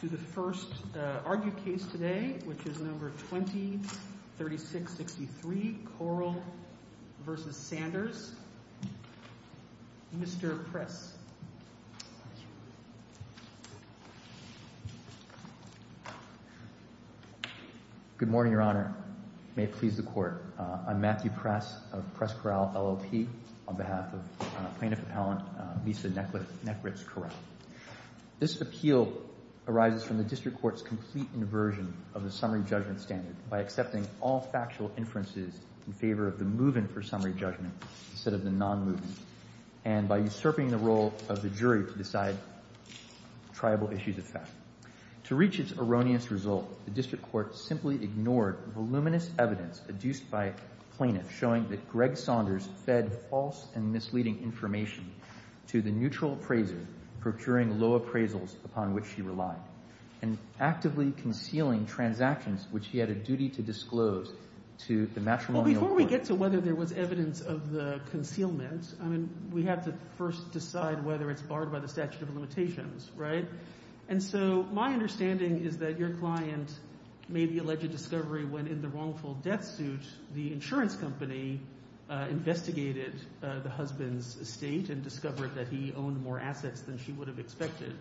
to the first argued case today, which is No. 20-3663, Koral v. Saunders. Mr. Press. Good morning, Your Honor. May it please the Court. I'm Matthew Press of Press Koral, LLP, on behalf of Plaintiff Appellant Misa Nekritz-Koral. This appeal arises from the District Court's complete inversion of the summary judgment standard by accepting all factual inferences in favor of the move-in for summary judgment instead of the non-move-in, and by usurping the role of the jury to decide triable issues of fact. To reach its erroneous result, the District Court simply ignored voluminous evidence adduced by plaintiffs showing that Greg Saunders fed false and misleading information to the neutral appraiser procuring low appraisals upon which she relied, and actively concealing transactions which he had a duty to disclose to the matrimonial court. Well, before we get to whether there was evidence of the concealment, I mean, we have to first decide whether it's barred by the statute of limitations, right? And so my understanding is that your client made the alleged discovery when, in the wrongful death suit, the insurance company investigated the husband's estate and discovered that he owned more assets than she would have expected.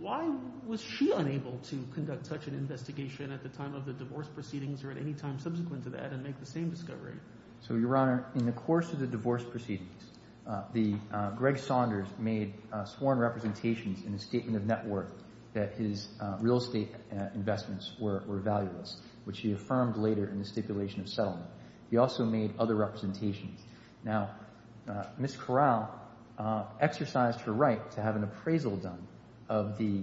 Why was she unable to conduct such an investigation at the time of the divorce proceedings, or at any time subsequent to that, and make the same discovery? So, Your Honor, in the course of the divorce proceedings, Greg Saunders made sworn representations in a statement of net worth that his real estate investments were valueless, which he also made other representations. Now, Ms. Corral exercised her right to have an appraisal done of the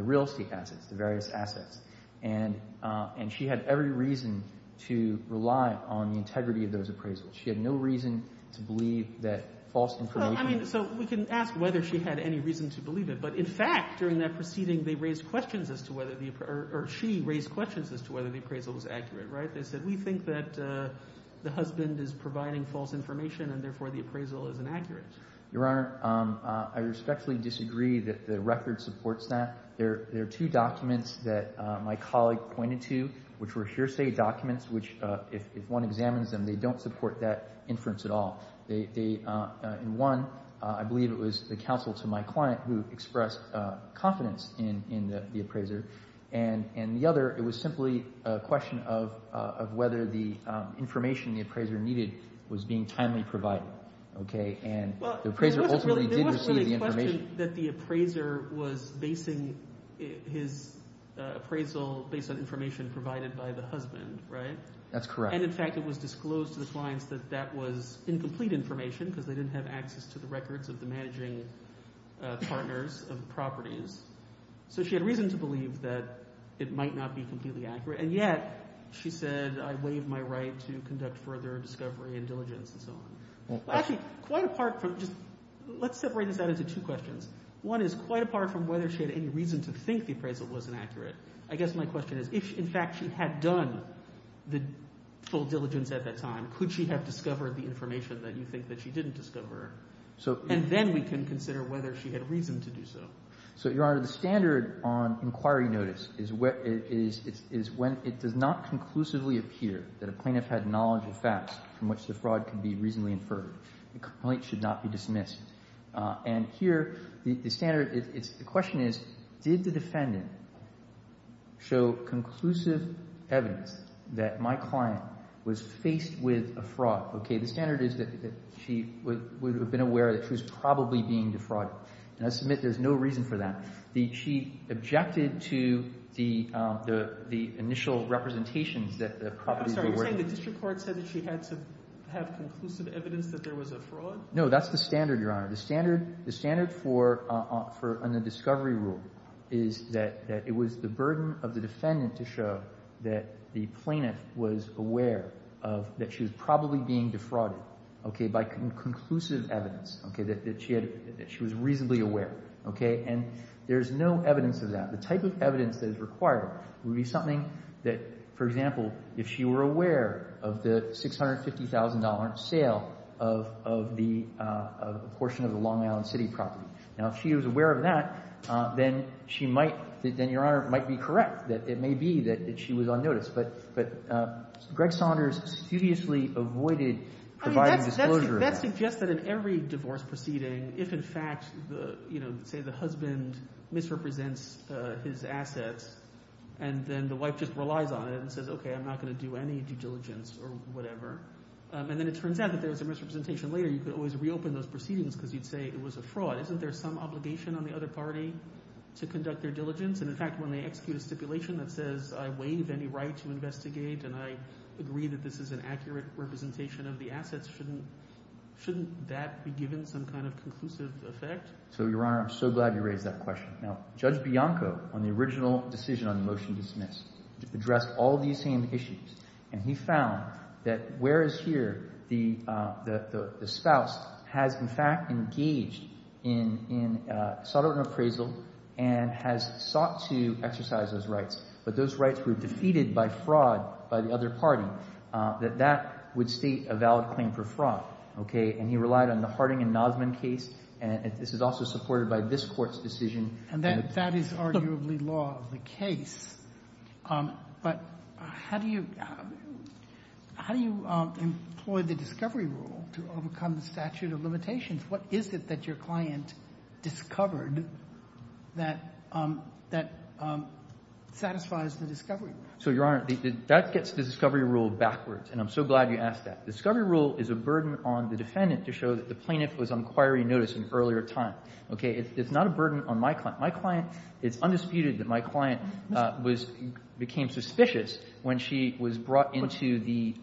real estate assets, the various assets, and she had every reason to rely on the integrity of those appraisals. She had no reason to believe that false information Well, I mean, so we can ask whether she had any reason to believe it, but in fact, during that proceeding, they raised questions as to whether the appraisal, or she raised questions as to whether the appraisal was accurate, right? They said, we think that the husband is providing false information, and therefore the appraisal is inaccurate. Your Honor, I respectfully disagree that the record supports that. There are two documents that my colleague pointed to, which were hearsay documents, which, if one examines them, they don't support that inference at all. In one, I believe it was the counsel to my client who expressed confidence in the appraiser, and in the other, it was simply a question of whether the information the appraiser needed was being timely provided, okay? And the appraiser ultimately did receive the information. Well, it wasn't really a question that the appraiser was basing his appraisal based on information provided by the husband, right? That's correct. And in fact, it was disclosed to the clients that that was incomplete information because they didn't have access to the records of the managing partners of the properties. So she had reason to believe that it might not be completely accurate, and yet she said, I waive my right to conduct further discovery and diligence and so on. Actually, quite apart from just, let's separate this out into two questions. One is quite apart from whether she had any reason to think the appraisal was inaccurate. I guess my question is, if in fact she had done the full diligence at that time, could she have discovered the information that you think that she didn't discover? And then we can consider whether she had reason to do so. So, Your Honor, the standard on inquiry notice is when it does not conclusively appear that a plaintiff had knowledge of facts from which the fraud could be reasonably inferred. The complaint should not be dismissed. And here, the standard is, the question is, did the defendant show conclusive evidence that my client was faced with a fraud? Okay, the standard is that she would have been aware that she was probably being defrauded. And I submit there's no reason for that. She objected to the initial representations that the properties were worth. I'm sorry, you're saying the district court said that she had to have conclusive evidence that there was a fraud? No, that's the standard, Your Honor. The standard for a discovery rule is that it was the burden of the defendant to show that the plaintiff was aware that she was probably being defrauded by conclusive evidence, that she was reasonably aware. And there's no evidence of that. The type of evidence that is required would be something that, for example, if she were aware of the $650,000 sale of a portion of the Long Island City property. Now, if she was aware of that, then she might, then Your Honor, might be correct. It may be that she was on notice. But Greg Saunders studiously avoided providing disclosure. That suggests that in every divorce proceeding, if in fact, say the husband misrepresents his assets, and then the wife just relies on it and says, okay, I'm not going to do any due diligence or whatever, and then it turns out that there was a misrepresentation later, you could always reopen those proceedings because you'd say it was a fraud. Isn't there some obligation on the other party to conduct their diligence? And in fact, when they execute a stipulation that says I waive any right to investigate and I agree that this is an accurate representation of the assets, shouldn't that be given some kind of conclusive effect? So, Your Honor, I'm so glad you raised that question. Now, Judge Bianco, on the original decision on the motion to dismiss, addressed all these same issues. And he found that whereas here the spouse has, in fact, engaged in sort of an appraisal and has sought to exercise those rights, but those rights were defeated by fraud by the other party, that that would state a valid claim for fraud, okay? And he relied on the Harding and Nozman case, and this is also supported by this Court's case. But how do you employ the discovery rule to overcome the statute of limitations? What is it that your client discovered that satisfies the discovery rule? So, Your Honor, that gets the discovery rule backwards, and I'm so glad you asked that. The discovery rule is a burden on the defendant to show that the plaintiff was on inquiry notice an earlier time, okay? It's not a burden on my client. My client, it's undisputed that my client was, became suspicious when she was brought into the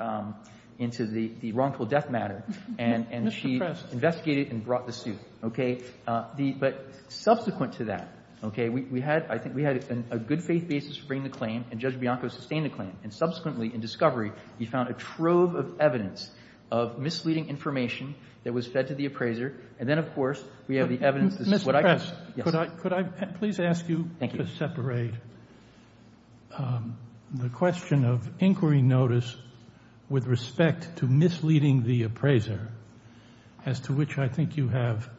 wrongful death matter. And she investigated and brought the suit, okay? But subsequent to that, okay, we had, I think we had a good-faith basis for bringing the claim, and Judge Bianco sustained the claim. And subsequently, in discovery, he found a trove of evidence of misleading information that was fed to the appraiser, and then, of course, we have the evidence that's what I can't do. Could I, could I please ask you to separate the question of inquiry notice with respect to misleading the appraiser, as to which I think you have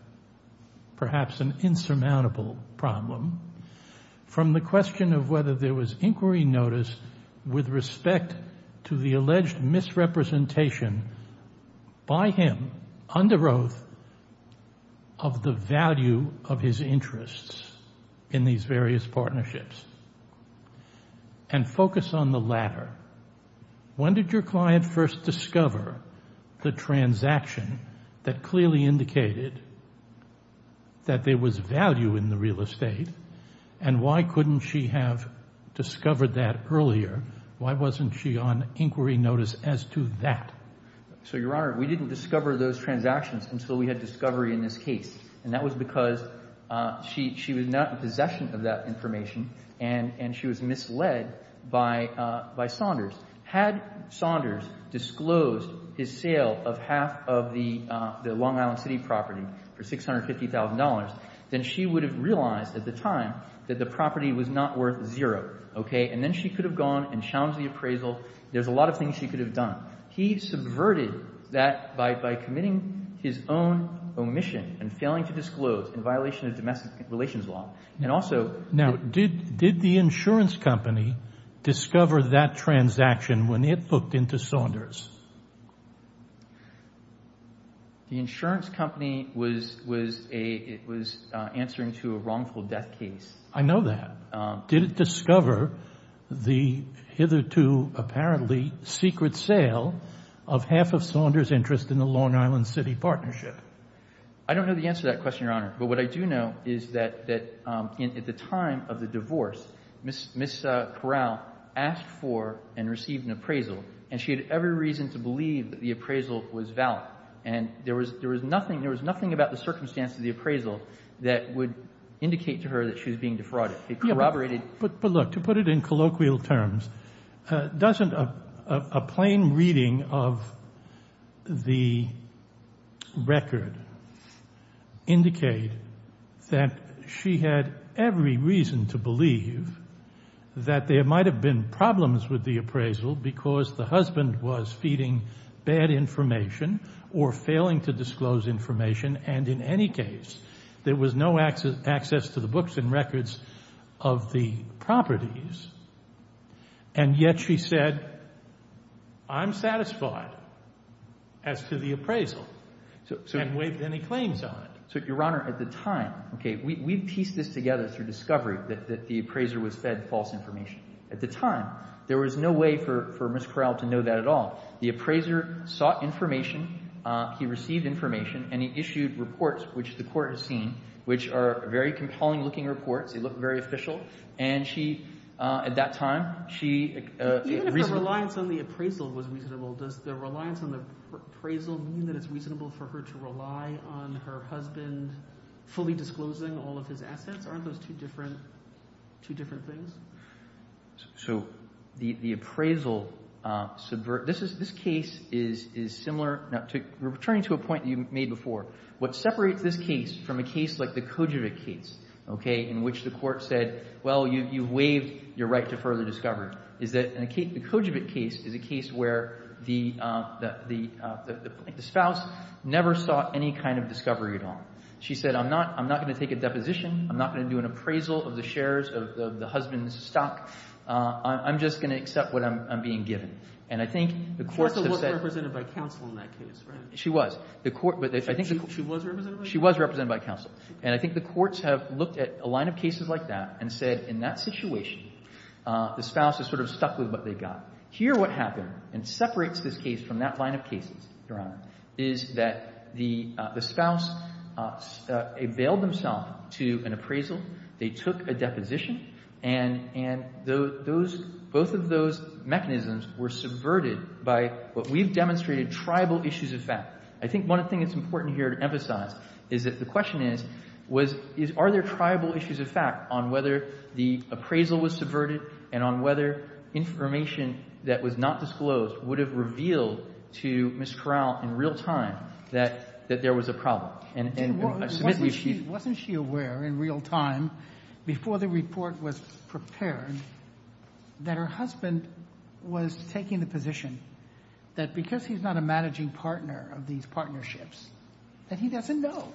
perhaps an insurmountable problem, from the question of whether there was inquiry notice with respect to the alleged misrepresentation by him, under oath, of the value of his interests in these various partnerships. And focus on the latter. When did your client first discover the transaction that clearly indicated that there was value in the real estate, and why couldn't she have discovered those transactions as to that? So, Your Honor, we didn't discover those transactions until we had discovery in this case. And that was because she, she was not in possession of that information, and she was misled by Saunders. Had Saunders disclosed his sale of half of the Long Island City property for $650,000, then she would have realized at the time that the property was not worth zero, okay? And then she could have gone and challenged the appraisal. There's a lot of things she could have done. He subverted that by committing his own omission and failing to disclose in violation of domestic relations law. And also- Now, did the insurance company discover that transaction when it booked into Saunders? The insurance company was answering to a wrongful death case. I know that. Did it discover the hitherto apparently secret sale of half of Saunders' interest in the Long Island City partnership? I don't know the answer to that question, Your Honor. But what I do know is that at the time of the divorce, Ms. Corral asked for and received an appraisal, and she had every reason to believe that the appraisal was valid. And there was nothing about the circumstance of the appraisal that would indicate to her that she was being defrauded. It corroborated- But look, to put it in colloquial terms, doesn't a plain reading of the record indicate that she had every reason to believe that there might have been problems with the appraisal because the husband was feeding bad information or failing to disclose information? And in any case, there was no access to the books and records of the properties, and yet she said, I'm satisfied as to the appraisal and waived any claims on it. So, Your Honor, at the time, okay, we pieced this together through discovery that the appraiser was fed false information. At the time, there was no way for Ms. Corral to know that at all. The appraiser sought information. He received information, and he issued reports, which the court has seen, which are very compelling-looking reports. They look very official. And she, at that time, she reasonably- Even if her reliance on the appraisal was reasonable, does the reliance on the appraisal mean that it's reasonable for her to rely on her husband fully disclosing all of his assets? Aren't those two different things? So the appraisal subvert- This case is similar- We're returning to a point you made before. What separates this case from a case like the Kojovec case, okay, in which the court said, well, you've waived your right to further discovery, is that the Kojovec case is a case where the spouse never sought any kind of discovery at all. She said, I'm not going to take a deposition. I'm not going to do an appraisal of the shares of the husband's stock. I'm just going to accept what I'm being given. And I think the courts have said- She also wasn't represented by counsel in that case, right? She was. The court- She was represented by counsel? She was represented by counsel. And I think the courts have looked at a line of cases like that and said, in that situation, the spouse is sort of stuck with what they've got. Here what happened, and separates this case from that line of cases, Your Honor, is that the spouse availed themselves to an appraisal. They took a deposition. And those, both of those mechanisms were subverted by what we've demonstrated tribal issues of fact. I think one thing that's important here to emphasize is that the question is, are there tribal issues of fact on whether the appraisal was subverted and on whether information that was not disclosed would have revealed to Ms. Corral in real time that there was a problem. Wasn't she aware in real time, before the report was prepared, that her husband was taking the position that because he's not a managing partner of these partnerships, that he doesn't know.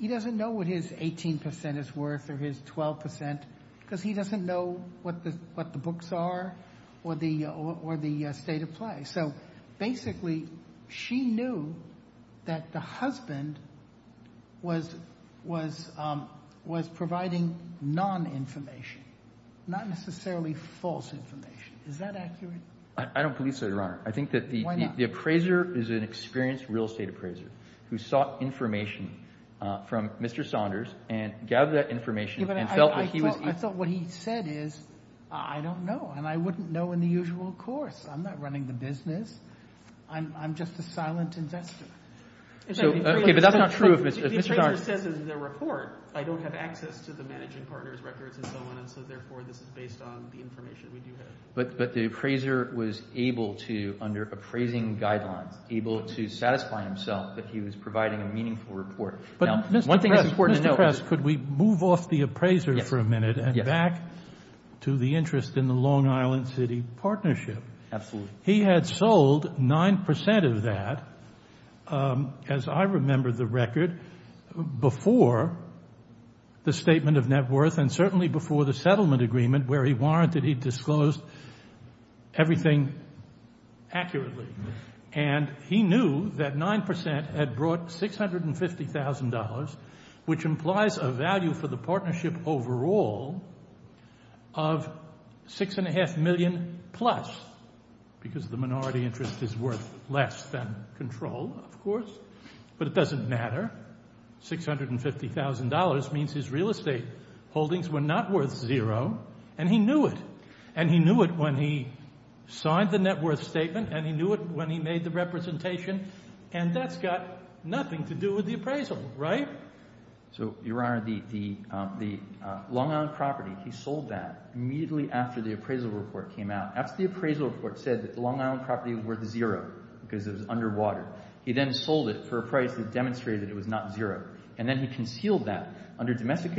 He doesn't know what his 18 percent is worth or his 12 percent, because he doesn't know what the books are or the state of play. So basically she knew that the husband was providing non-information, not necessarily false information. Is that accurate? I don't believe so, Your Honor. I think that the appraiser is an experienced real estate appraiser who sought information from Mr. Saunders and gathered that information and felt that he was I thought what he said is, I don't know, and I wouldn't know in the usual course. I'm not running the business. I'm just a silent investor. Okay, but that's not true of Mr. Saunders. The appraiser says in the report, I don't have access to the managing partner's records and so on, and so therefore this is based on the information we do have. But the appraiser was able to, under appraising guidelines, able to satisfy himself that he was providing a meaningful report. Now, one thing that's important to note is Mr. Kress, could we move off the appraiser for a minute and back to the interest in the Long Island City Partnership? Absolutely. He had sold 9% of that, as I remember the record, before the statement of net worth and certainly before the settlement agreement where he warranted he disclosed everything accurately. And he knew that 9% had brought $650,000, which implies a value for the partnership overall of $6.5 million plus because the minority interest is worth less than control, of course. But it doesn't matter. $650,000 means his real estate holdings were not worth zero, and he knew it. And he knew it when he signed the net worth statement and he knew it when he made the representation, and that's got nothing to do with the appraisal, right? So, Your Honor, the Long Island property, he sold that immediately after the appraisal report came out. After the appraisal report said that the Long Island property was worth zero because it was underwater, he then sold it for a price that demonstrated it was not zero, and then he concealed that under domestic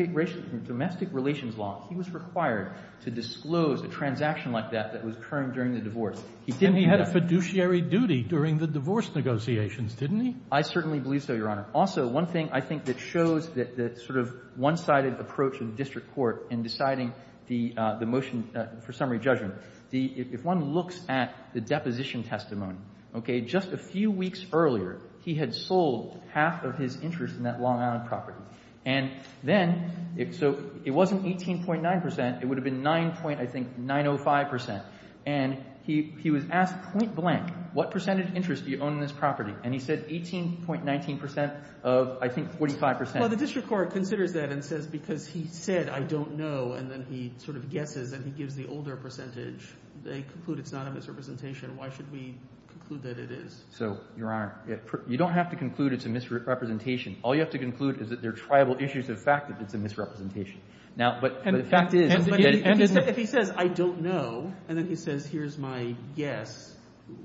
relations law. He was required to disclose a transaction like that that was occurring during the divorce. He didn't do that. He had a fiduciary duty during the divorce negotiations, didn't he? I certainly believe so, Your Honor. Also, one thing I think that shows the sort of one-sided approach in the district court in deciding the motion for summary judgment, if one looks at the deposition testimony, okay, just a few weeks earlier, he had sold half of his interest in that Long Island property. And then, so it wasn't 18.9%. It would have been 9.0, I think, 9.05%. And he was asked point blank, what percentage interest do you own in this property? And he said 18.19% of, I think, 45%. Well, the district court considers that and says because he said I don't know and then he sort of guesses and he gives the older percentage, they conclude it's not a misrepresentation. Why should we conclude that it is? So, Your Honor, you don't have to conclude it's a misrepresentation. All you have to conclude is that they're tribal issues of fact if it's a misrepresentation. Now, but the fact is that if he says I don't know and then he says here's my guess,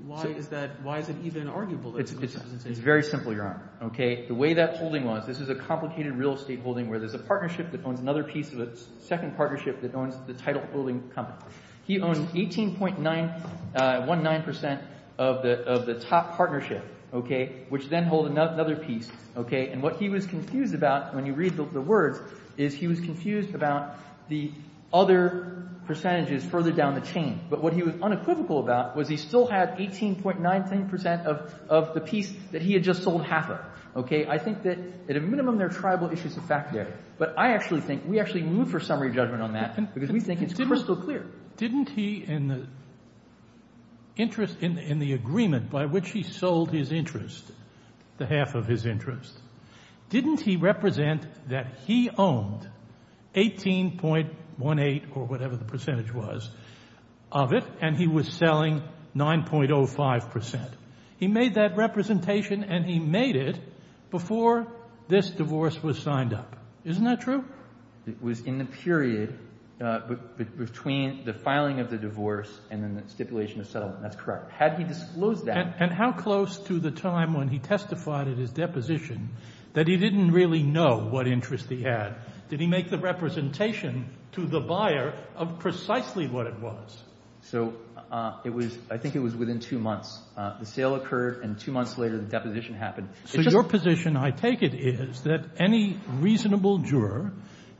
why is that, why is it even arguable that it's a misrepresentation? It's very simple, Your Honor. Okay, the way that holding was, this is a complicated real estate holding where there's a partnership that owns another piece of a second partnership that owns the title holding company. He owns 18.19% of the top partnership, okay, which then hold another piece, okay, and what he was confused about when you read the words is he was confused about the other percentages further down the chain. But what he was unequivocal about was he still had 18.19% of the piece that he had just sold half of, okay. I think that at a minimum they're tribal issues of fact there. But I actually think we actually move for summary judgment on that because we think it's crystal clear. Didn't he in the interest in the agreement by which he sold his interest, the half of his interest, didn't he represent that he owned 18.18% or whatever the percentage was of it and he was selling 9.05%? He made that representation and he made it before this divorce was signed up. Isn't that true? It was in the period between the filing of the divorce and then the stipulation of settlement. That's correct. Had he disclosed that. And how close to the time when he testified at his deposition that he didn't really know what interest he had? Did he make the representation to the buyer of precisely what it was? So I think it was within two months. The sale occurred and two months later the deposition happened. So your position, I take it, is that any reasonable juror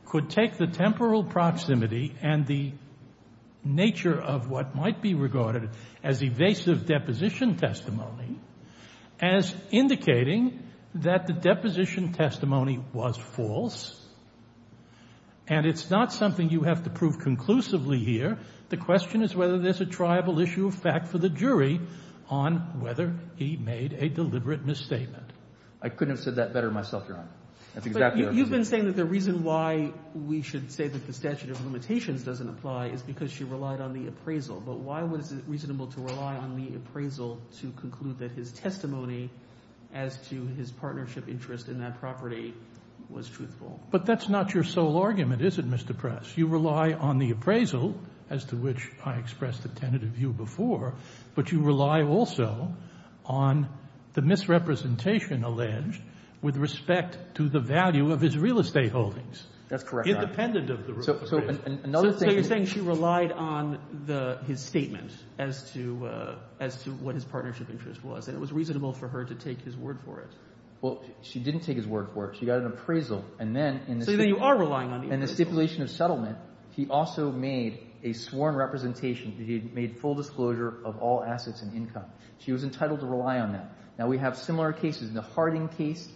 could take the temporal proximity and the nature of what might be regarded as evasive deposition testimony as indicating that the deposition testimony was false and it's not something you have to prove conclusively here. The question is whether there's a triable issue of fact for the jury on whether he made a deliberate misstatement. I couldn't have said that better myself, Your Honor. But you've been saying that the reason why we should say that the statute of limitations doesn't apply is because she relied on the appraisal. But why was it reasonable to rely on the appraisal to conclude that his testimony as to his partnership interest in that property was truthful? But that's not your sole argument, is it, Mr. Press? You rely on the appraisal, as to which I expressed a tentative view before, but you rely also on the misrepresentation alleged with respect to the value of his real estate holdings. That's correct, Your Honor. Independent of the real estate. So you're saying she relied on his statement as to what his partnership interest was and it was reasonable for her to take his word for it. Well, she didn't take his word for it. She got an appraisal, and then in the stipulation of settlement, he also made a sworn representation that he had made full disclosure of all assets and income. She was entitled to rely on that. Now, we have similar cases. The Harding case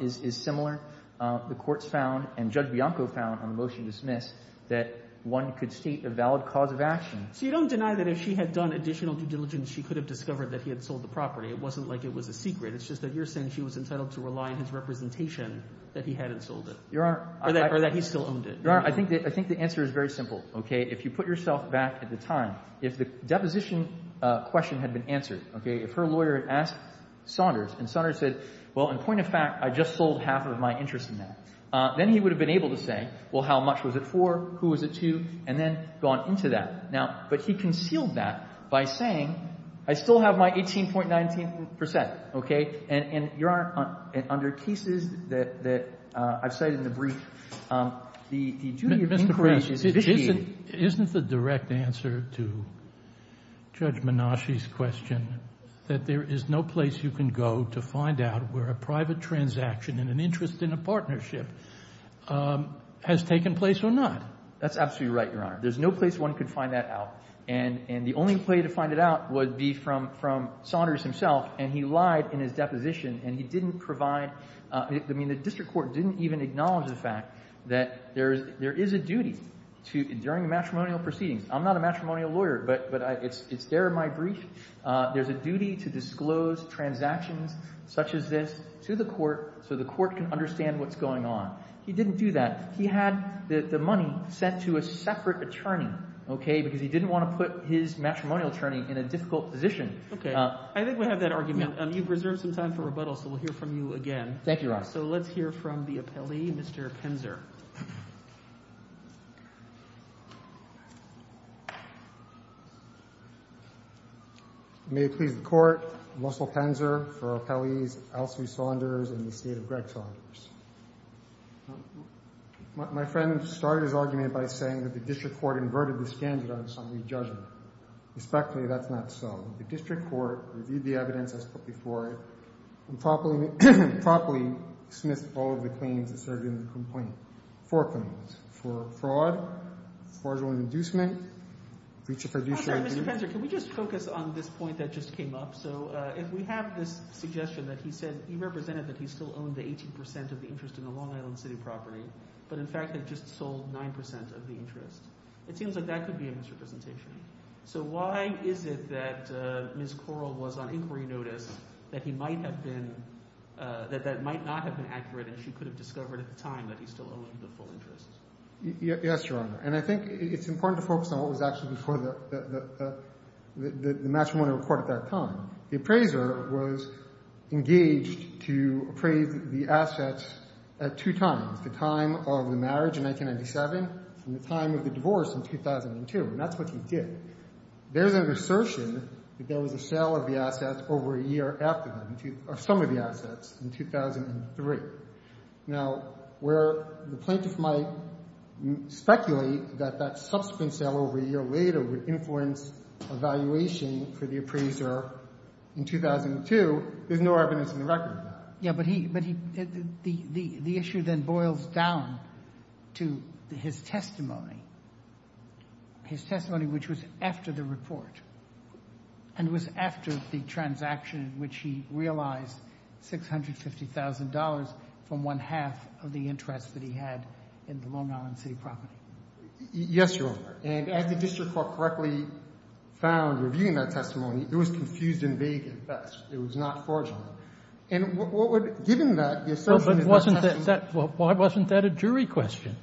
is similar. The courts found and Judge Bianco found on the motion dismissed that one could state a valid cause of action. So you don't deny that if she had done additional due diligence, she could have discovered that he had sold the property. It wasn't like it was a secret. It's just that you're saying she was entitled to rely on his representation that he hadn't sold it or that he still owned it. Your Honor, I think the answer is very simple. If you put yourself back at the time, if the deposition question had been answered, if her lawyer had asked Saunders and Saunders said, well, in point of fact, I just sold half of my interest in that, then he would have been able to say, well, how much was it for? Who was it to? And then gone into that. Now, but he concealed that by saying, I still have my 18.19 percent. Okay? And, Your Honor, under cases that I've cited in the brief, the duty of inquiry is to investigate. Isn't the direct answer to Judge Menasche's question that there is no place you can go to find out where a private transaction and an interest in a partnership has taken place or not? That's absolutely right, Your Honor. There's no place one could find that out. And the only way to find it out would be from Saunders himself, and he lied in his deposition and he didn't provide – I mean the district court didn't even acknowledge the fact that there is a duty during a matrimonial proceeding. I'm not a matrimonial lawyer, but it's there in my brief. There's a duty to disclose transactions such as this to the court so the court can understand what's going on. He didn't do that. He had the money sent to a separate attorney, okay, because he didn't want to put his matrimonial attorney in a difficult position. Okay. I think we have that argument. You've reserved some time for rebuttal, so we'll hear from you again. Thank you, Your Honor. So let's hear from the appellee, Mr. Penzer. May it please the Court, Russell Penzer for appellees Alcee Saunders and the State of Greg Saunders. My friend started his argument by saying that the district court inverted this candidate on some re-judgment. Respectfully, that's not so. The district court reviewed the evidence as put before it and properly dismissed all of the claims that served in the complaint. Four claims. For fraud, fraudulent inducement, breach of fiduciary duty. Mr. Penzer, can we just focus on this point that just came up? So if we have this suggestion that he said he represented that he still owned the 18% of the interest in the Long Island City property, but in fact had just sold 9% of the interest, it seems like that could be a misrepresentation. So why is it that Ms. Correll was on inquiry notice that he might not have been accurate and she could have discovered at the time that he still owned the full interest? Yes, Your Honor. And I think it's important to focus on what was actually before the matrimonial report at that time. The appraiser was engaged to appraise the assets at two times, the time of the marriage in 1997 and the time of the divorce in 2002, and that's what he did. There's an assertion that there was a sale of the assets over a year after them, some of the assets in 2003. Now, where the plaintiff might speculate that that subsequent sale over a year later would influence evaluation for the appraiser in 2002, there's no evidence in the record of that. Yeah, but he – the issue then boils down to his testimony, his testimony which was after the report and was after the transaction in which he realized $650,000 from one-half of the interest that he had in the Long Island City property. Yes, Your Honor. And as the district court correctly found reviewing that testimony, it was confused and vague at best. It was not fraudulent. And what would – given that, the assertion is that testimony – But wasn't that – why wasn't that a jury question?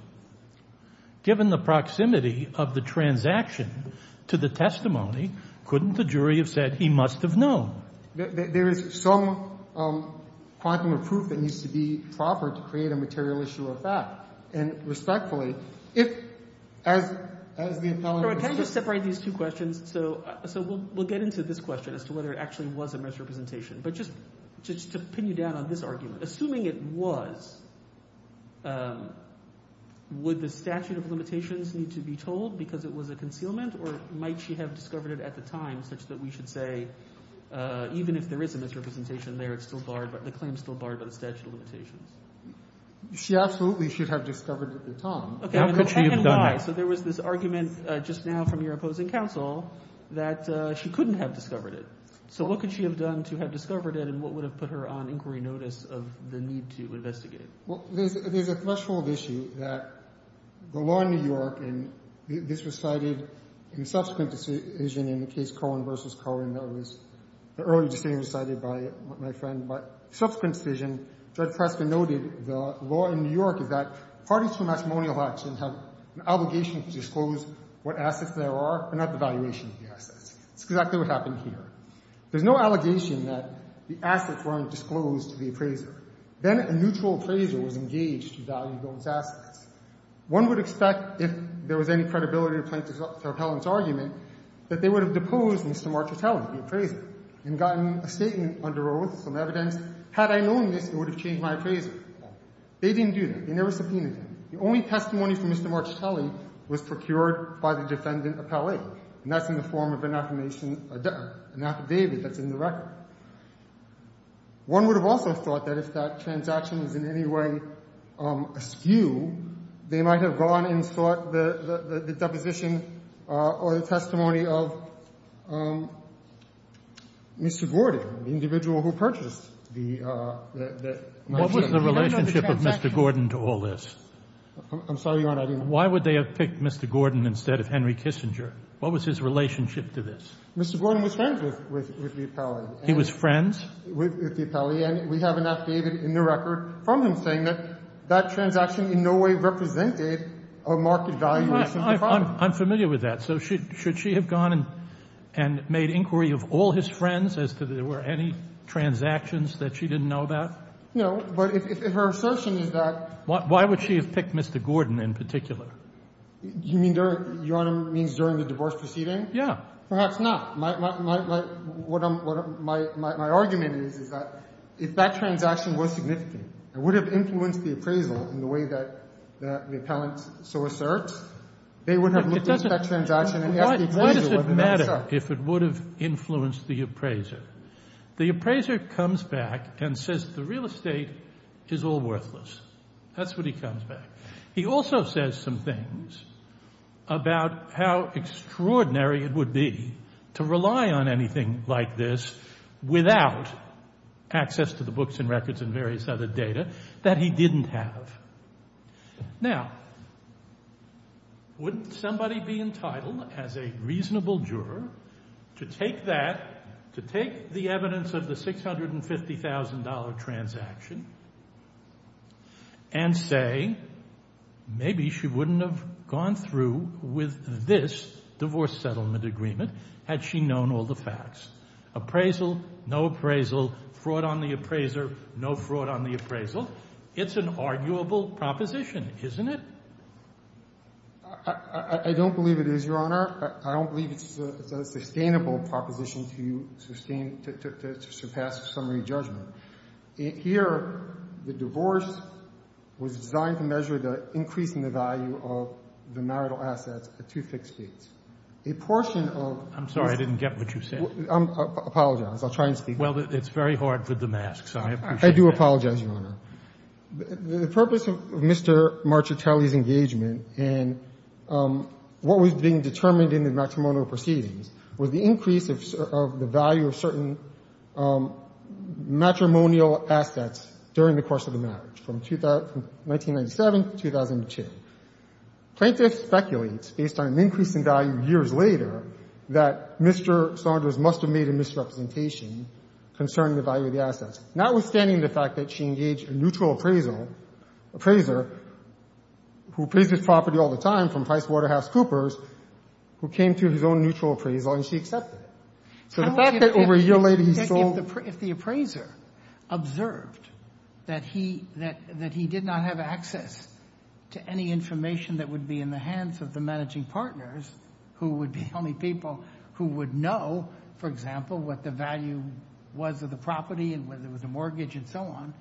Given the proximity of the transaction to the testimony, couldn't the jury have said he must have known? There is some quantum of proof that needs to be proper to create a material issue of fact. And respectfully, if – as the appellant – Can I just separate these two questions? So we'll get into this question as to whether it actually was a misrepresentation. But just to pin you down on this argument, assuming it was, would the statute of limitations need to be told because it was a concealment? Or might she have discovered it at the time such that we should say, even if there is a misrepresentation there, it's still barred – the claim is still barred by the statute of limitations? She absolutely should have discovered it at the time. How could she have done that? Okay, and why? So there was this argument just now from your opposing counsel that she couldn't have discovered it. So what could she have done to have discovered it and what would have put her on inquiry notice of the need to investigate? Well, there's a threshold issue that the law in New York – and this was cited in subsequent decision in the case Cohen v. Cohen that was earlier this year cited by my friend. But subsequent decision, Judge Prescott noted the law in New York is that parties to a matrimonial action have an obligation to disclose what assets there are and not the valuation of the assets. That's exactly what happened here. There's no allegation that the assets weren't disclosed to the appraiser. Then a neutral appraiser was engaged to value those assets. One would expect if there was any credibility to plaintiff's appellant's argument that they would have deposed Mr. Marchitelli, the appraiser, and gotten a statement under oath, some evidence. Had I known this, it would have changed my appraiser. They didn't do that. They never subpoenaed him. The only testimony from Mr. Marchitelli was procured by the defendant appellate, and that's in the form of an affirmation, an affidavit that's in the record. One would have also thought that if that transaction was in any way askew, they might have gone and sought the deposition or the testimony of Mr. Gordon, the individual who purchased the mansion. What was the relationship of Mr. Gordon to all this? I'm sorry, Your Honor. Why would they have picked Mr. Gordon instead of Henry Kissinger? What was his relationship to this? Mr. Gordon was friends with the appellant. He was friends? With the appellant. And we have an affidavit in the record from him saying that that transaction in no way represented a marked valuation of the property. I'm familiar with that. So should she have gone and made inquiry of all his friends as to if there were any transactions that she didn't know about? No. Why would she have picked Mr. Gordon in particular? You mean during the divorce proceeding? Yes. Perhaps not. My argument is that if that transaction was significant, it would have influenced the appraisal in the way that the appellant so asserts. Why does it matter if it would have influenced the appraiser? The appraiser comes back and says the real estate is all worthless. That's what he comes back. He also says some things about how extraordinary it would be to rely on anything like this without access to the books and records and various other data that he didn't have. Now, wouldn't somebody be entitled as a reasonable juror to take that, to take the evidence of the $650,000 transaction and say, maybe she wouldn't have gone through with this divorce settlement agreement had she known all the facts? Appraisal, no appraisal. Fraud on the appraiser, no fraud on the appraisal. It's an arguable proposition, isn't it? I don't believe it is, Your Honor. I don't believe it's a sustainable proposition to sustain, to surpass a summary judgment. Here, the divorce was designed to measure the increase in the value of the marital assets at two fixed dates. A portion of this was the purpose of Mr. Marchitelli's engagement, and what was being determined in the matrimonial proceedings was the increase of the value of certain matrimonial assets during the course of the marriage from 1997 to 2002. Plaintiff speculates, based on an increase in value years later, that Mr. Saunders must have made a misrepresentation concerning the value of the assets. Notwithstanding the fact that she engaged a neutral appraiser who appraised his property all the time from PricewaterhouseCoopers, who came to his own neutral appraisal, and she accepted it. So the fact that over a year later he sold— If the appraiser observed that he did not have access to any information that would be in the hands of the managing partners, who would be the only people who would know, for example, what the value was of the property and whether it was a mortgage and so on,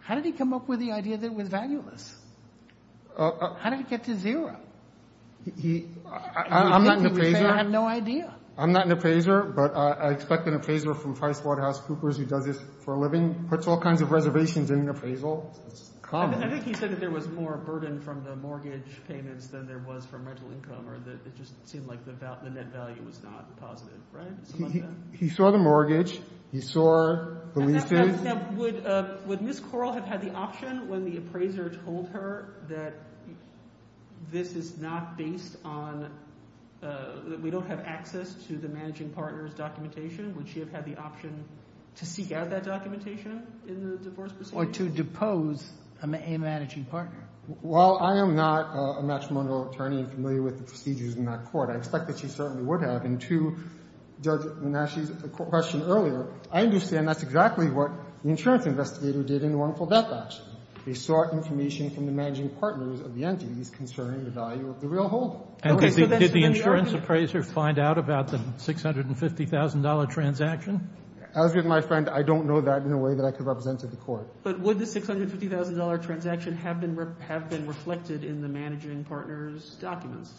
how did he come up with the idea that it was valueless? How did it get to zero? He— I'm not an appraiser. I have no idea. I'm not an appraiser, but I expect an appraiser from PricewaterhouseCoopers who does this for a living puts all kinds of reservations in an appraisal. That's common. I think he said that there was more burden from the mortgage payments than there was from rental income, or that it just seemed like the net value was not positive. Right? He saw the mortgage. He saw the lease date. Would Ms. Corl have had the option when the appraiser told her that this is not based on—that we don't have access to the managing partner's documentation, would she have had the option to seek out that documentation in the divorce procedure? Or to depose a managing partner. Well, I am not a matrimonial attorney and familiar with the procedures in that court. I expect that she certainly would have. And to Judge Manasci's question earlier, I understand that's exactly what the insurance investigator did in the wrongful death action. He sought information from the managing partners of the entities concerning the value of the real hold. Okay. So that's— Did the insurance appraiser find out about the $650,000 transaction? As with my friend, I don't know that in a way that I could represent to the Court. But would the $650,000 transaction have been reflected in the managing partner's documents?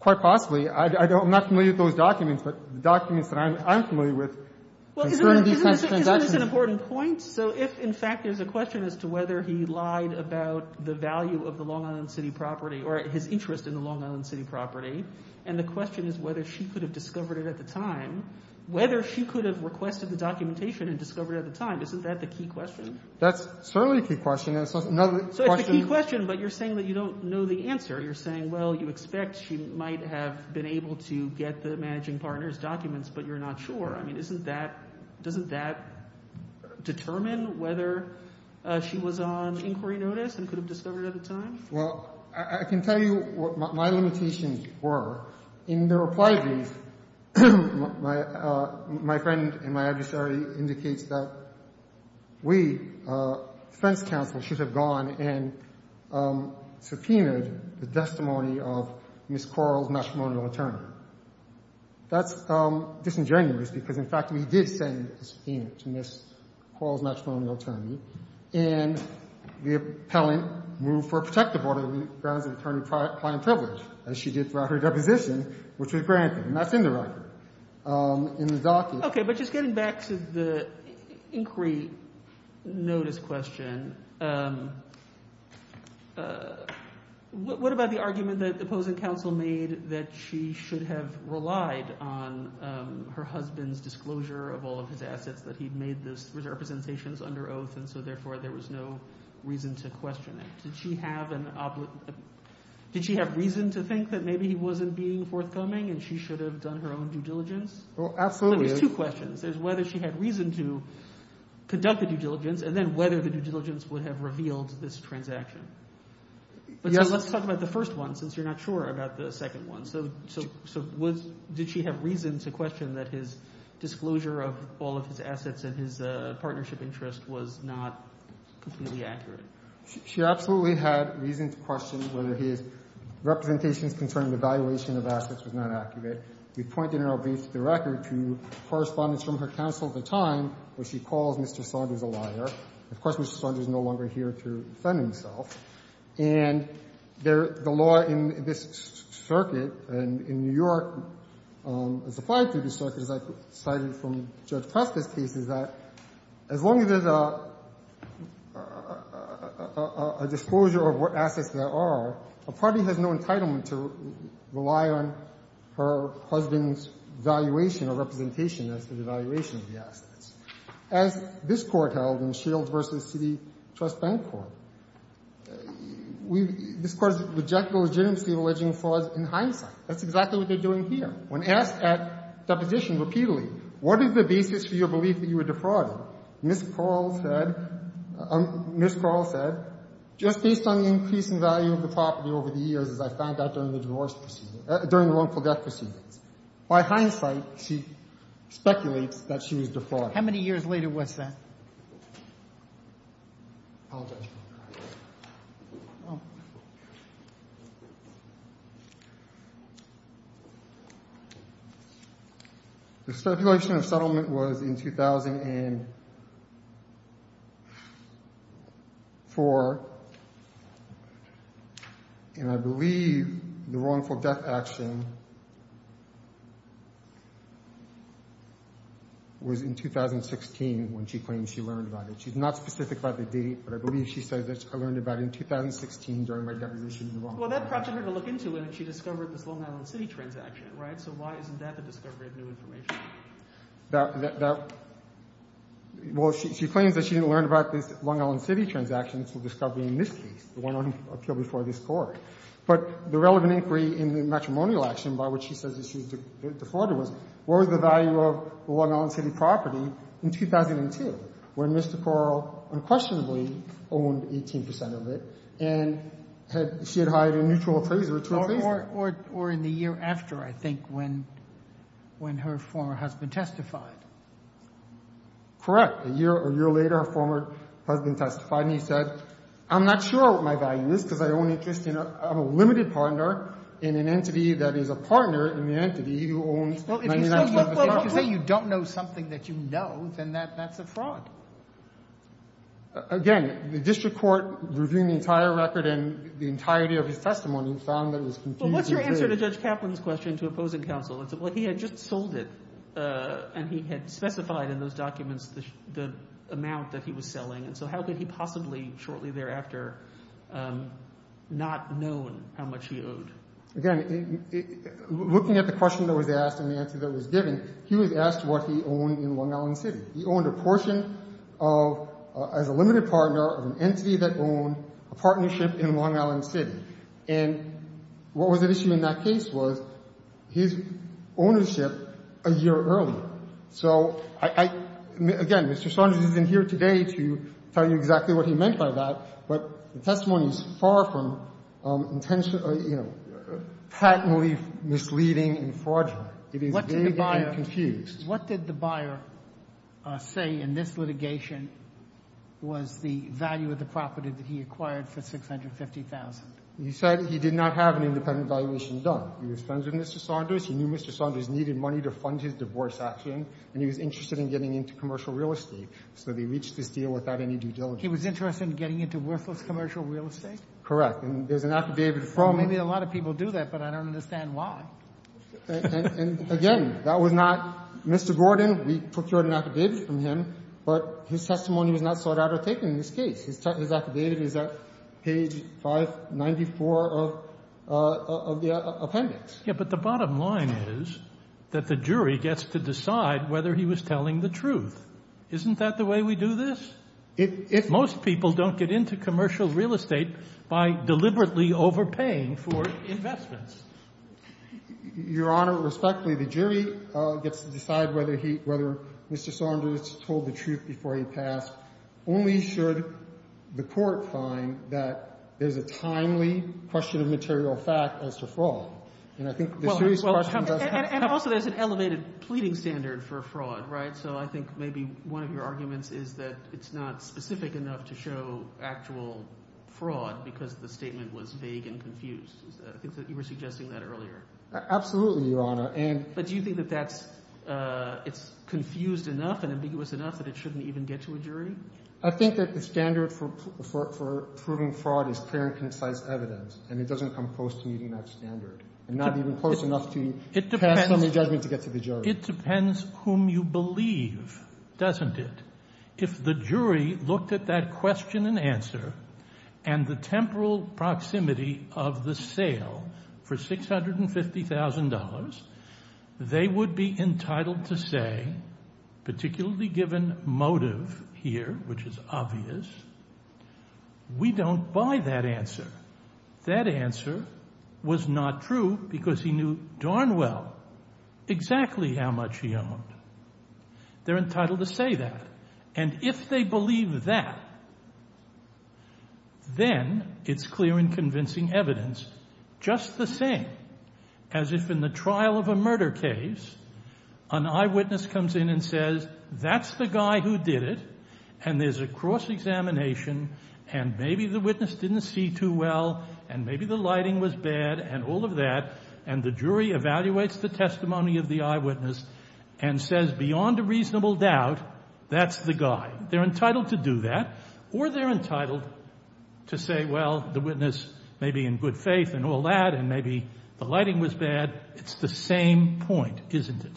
Quite possibly. I'm not familiar with those documents, but the documents that I'm familiar with concerning these types of transactions— Well, isn't this an important point? So if, in fact, there's a question as to whether he lied about the value of the Long Island City property or his interest in the Long Island City property, and the question is whether she could have discovered it at the time, whether she could have requested the documentation and discovered it at the time, isn't that the key question? That's certainly a key question. So it's the key question, but you're saying that you don't know the answer. You're saying, well, you expect she might have been able to get the managing partner's documents, but you're not sure. I mean, isn't that—doesn't that determine whether she was on inquiry notice and could have discovered it at the time? Well, I can tell you what my limitations were. In the reply brief, my friend and my adversary indicates that we, defense counsel, should have gone and subpoenaed the testimony of Ms. Quarles, matrimonial attorney. That's disingenuous, because, in fact, we did send a subpoena to Ms. Quarles, matrimonial attorney, and the appellant moved for a protective order that grounds the attorney prime privilege, as she did throughout her deposition, which was granted. And that's in the writing, in the document. Okay, but just getting back to the inquiry notice question, what about the argument that opposing counsel made that she should have relied on her husband's disclosure of all of his assets, that he made those representations under oath, and so, therefore, there was no reason to question it? Did she have an—did she have reason to think that maybe he wasn't being forthcoming and she should have done her own due diligence? Well, absolutely. There's two questions. There's whether she had reason to conduct the due diligence, and then whether the due diligence would have revealed this transaction. Yes. So let's talk about the first one, since you're not sure about the second one. So did she have reason to question that his disclosure of all of his assets and his partnership interest was not completely accurate? She absolutely had reason to question whether his representations concerning the valuation of assets was not accurate. We point in our brief to the record to correspondence from her counsel at the time where she calls Mr. Saunders a liar. Of course, Mr. Saunders is no longer here to defend himself. And the law in this circuit, and in New York, as applied to the circuit, as I cited from Judge Preston's case, is that as long as there's a disclosure of what assets there are, a party has no entitlement to rely on her husband's valuation or representation as to the valuation of the assets. As this Court held in Shields v. City Trust Bank Court, this Court's rejected the legitimacy of alleging frauds in hindsight. That's exactly what they're doing here. When asked at deposition repeatedly, what is the basis for your belief that you were defrauding? Ms. Pearl said, Ms. Pearl said, just based on the increase in value of the property over the years, as I found out during the divorce proceedings, during the wrongful death proceedings. By hindsight, she speculates that she was defrauding. How many years later was that? I apologize. The stipulation of settlement was in 2004. And I believe the wrongful death action was in 2016 when she claims she learned about it. She's not specific about the date, but I believe she says that she learned about it in 2016 during her deposition. Well, that prompted her to look into it, and she discovered this Long Island City transaction, right? So why isn't that the discovery of new information? Well, she claims that she learned about this Long Island City transaction through discovery in this case, the one on appeal before this Court. But the relevant inquiry in the matrimonial action by which she says that she was defrauding was, what was the value of the Long Island City property in 2002, when Mr. Correll unquestionably owned 18 percent of it, and she had hired a mutual appraiser to appraise it? Or in the year after, I think, when her former husband testified. Correct. A year or a year later, her former husband testified, and he said, I'm not sure what my value is because I own interest in a limited partner in an entity that is a partner in the entity who owns 99 percent of the property. If you say you don't know something that you know, then that's a fraud. Again, the district court reviewing the entire record and the entirety of his testimony found that it was confusing. Well, what's your answer to Judge Kaplan's question to opposing counsel? Well, he had just sold it, and he had specified in those documents the amount that he was selling. And so how could he possibly shortly thereafter not known how much he owed? Again, looking at the question that was asked and the answer that was given, he was asked what he owned in Long Island City. He owned a portion of as a limited partner of an entity that owned a partnership in Long Island City. And what was at issue in that case was his ownership a year earlier. So I — again, Mr. Sondra isn't here today to tell you exactly what he meant by that, but the testimony is far from intentionally — you know, patently misleading and fraudulent. It is vague and confused. What did the buyer — what did the buyer say in this litigation was the value of the property that he acquired for $650,000? He said he did not have an independent valuation done. He was friends with Mr. Saunders. He knew Mr. Saunders needed money to fund his divorce action, and he was interested in getting into commercial real estate. So they reached this deal without any due diligence. He was interested in getting into worthless commercial real estate? Correct. And there's an affidavit from — Well, maybe a lot of people do that, but I don't understand why. And again, that was not — Mr. Gordon, we procured an affidavit from him, but his testimony was not sought out or taken in this case. His affidavit is at page 594 of the appendix. Yes, but the bottom line is that the jury gets to decide whether he was telling the truth. Isn't that the way we do this? Most people don't get into commercial real estate by deliberately overpaying for investments. Your Honor, respectfully, the jury gets to decide whether Mr. Saunders told the truth before he passed, only should the court find that there's a timely question of material fact as to fraud. And I think the serious question does have — And also there's an elevated pleading standard for fraud, right? So I think maybe one of your arguments is that it's not specific enough to show actual fraud because the statement was vague and confused. I think that you were suggesting that earlier. Absolutely, Your Honor. But do you think that that's — it's confused enough and ambiguous enough that it shouldn't even get to a jury? I think that the standard for proving fraud is clear and concise evidence, and it doesn't come close to meeting that standard, and not even close enough to pass somebody's judgment to get to the jury. Well, it depends whom you believe, doesn't it? If the jury looked at that question and answer and the temporal proximity of the sale for $650,000, they would be entitled to say, particularly given motive here, which is obvious, we don't buy that answer. That answer was not true because he knew darn well exactly how much he owned. They're entitled to say that. And if they believe that, then it's clear and convincing evidence, just the same. As if in the trial of a murder case, an eyewitness comes in and says, that's the guy who did it, and there's a cross-examination, and maybe the witness didn't see too well, and maybe the lighting was bad, and all of that, and the jury evaluates the testimony of the eyewitness and says, beyond a reasonable doubt, that's the guy. They're entitled to do that, or they're entitled to say, well, the witness may be in good faith and all that, and maybe the lighting was bad. It's the same point, isn't it?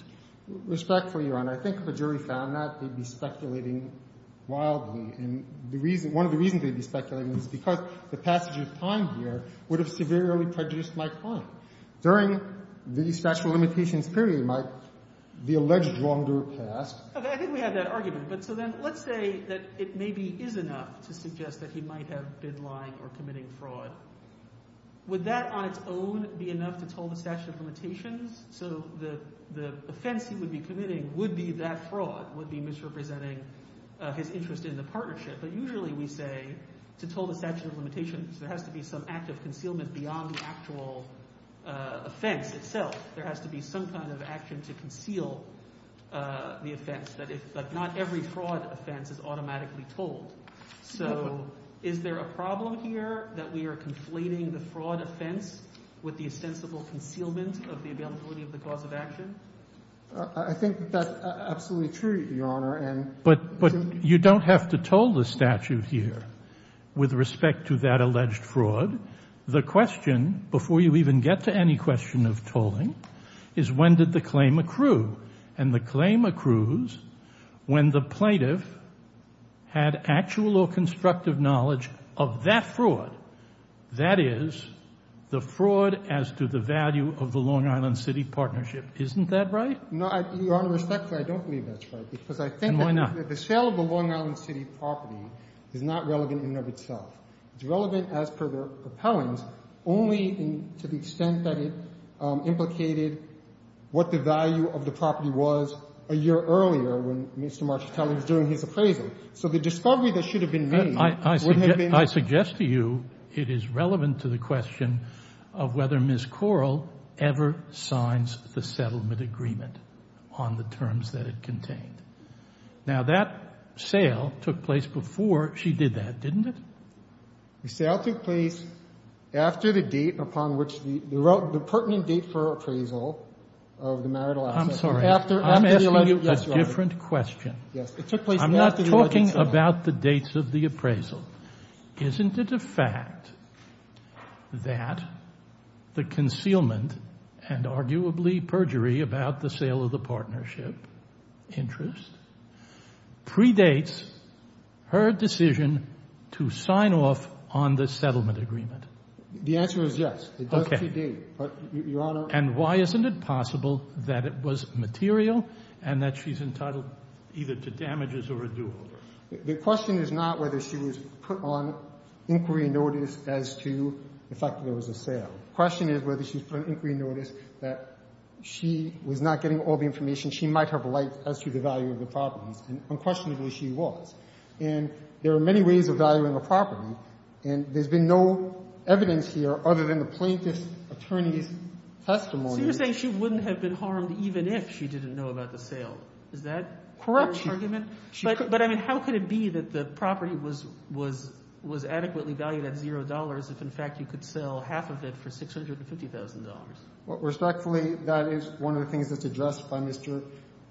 Respectfully, Your Honor, I think if a jury found that, they'd be speculating wildly, and one of the reasons they'd be speculating is because the passage of time here would have severely prejudiced my client. During the statute of limitations period, Mike, the alleged wrongdoer passed. Okay, I think we have that argument. But so then let's say that it maybe is enough to suggest that he might have been lying or committing fraud. Would that on its own be enough to toll the statute of limitations? So the offense he would be committing would be that fraud, would be misrepresenting his interest in the partnership. But usually we say to toll the statute of limitations, there has to be some act of concealment beyond the actual offense itself. There has to be some kind of action to conceal the offense, but not every fraud offense is automatically told. So is there a problem here that we are conflating the fraud offense with the ostensible concealment of the availability of the cause of action? I think that's absolutely true, Your Honor. But you don't have to toll the statute here with respect to that alleged fraud. The question, before you even get to any question of tolling, is when did the claim accrue? And the claim accrues when the plaintiff had actual or constructive knowledge of that fraud, that is, the fraud as to the value of the Long Island City Partnership. Isn't that right? No, Your Honor, respectfully, I don't believe that's right. And why not? Because I think that the sale of the Long Island City property is not relevant in and of itself. It's relevant as per the propellant, only to the extent that it implicated what the value of the property was a year earlier when Mr. Marchitelli was doing his appraisal. So the discovery that should have been made would have been. I suggest to you it is relevant to the question of whether Ms. Corll ever signs the settlement agreement on the terms that it contained. Now, that sale took place before she did that, didn't it? The sale took place after the date upon which the pertinent date for appraisal of the marital assets. I'm sorry. I'm asking you a different question. I'm not talking about the dates of the appraisal. Isn't it a fact that the concealment and arguably perjury about the sale of the partnership interest predates her decision to sign off on the settlement agreement? The answer is yes. It does predate. Your Honor. And why isn't it possible that it was material and that she's entitled either to damages or a dual? The question is not whether she was put on inquiry notice as to the fact that there was a sale. The question is whether she was put on inquiry notice that she was not getting all the information she might have liked as to the value of the properties, and unquestionably she was. And there are many ways of valuing a property, and there's been no evidence here other than the plaintiff's attorney's testimony. So you're saying she wouldn't have been harmed even if she didn't know about the Is that her argument? Correct. But, I mean, how could it be that the property was adequately valued at $0 if, in fact, you could sell half of it for $650,000? Respectfully, that is one of the things that's addressed by Mr.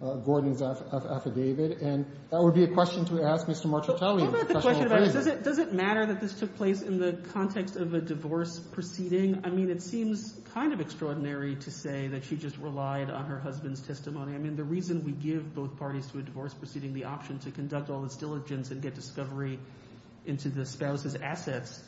Gordon's affidavit, and that would be a question to ask Mr. Marchantelli. What about the question about does it matter that this took place in the context of a divorce proceeding? I mean, it seems kind of extraordinary to say that she just relied on her husband's testimony. I mean, the reason we give both parties to a divorce proceeding the option to conduct all this diligence and get discovery into the spouse's assets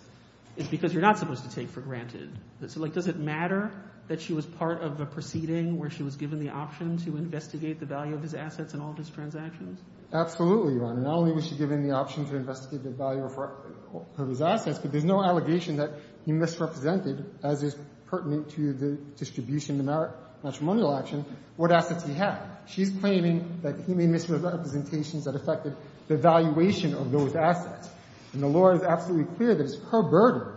is because you're not supposed to take for granted. So, like, does it matter that she was part of a proceeding where she was given the option to investigate the value of his assets and all of his transactions? Absolutely, Your Honor. Not only was she given the option to investigate the value of his assets, but there's no allegation that he misrepresented, as is pertinent to the distribution of matrimonial action, what assets he had. She's claiming that he made misrepresentations that affected the valuation of those assets. And the law is absolutely clear that it's her burden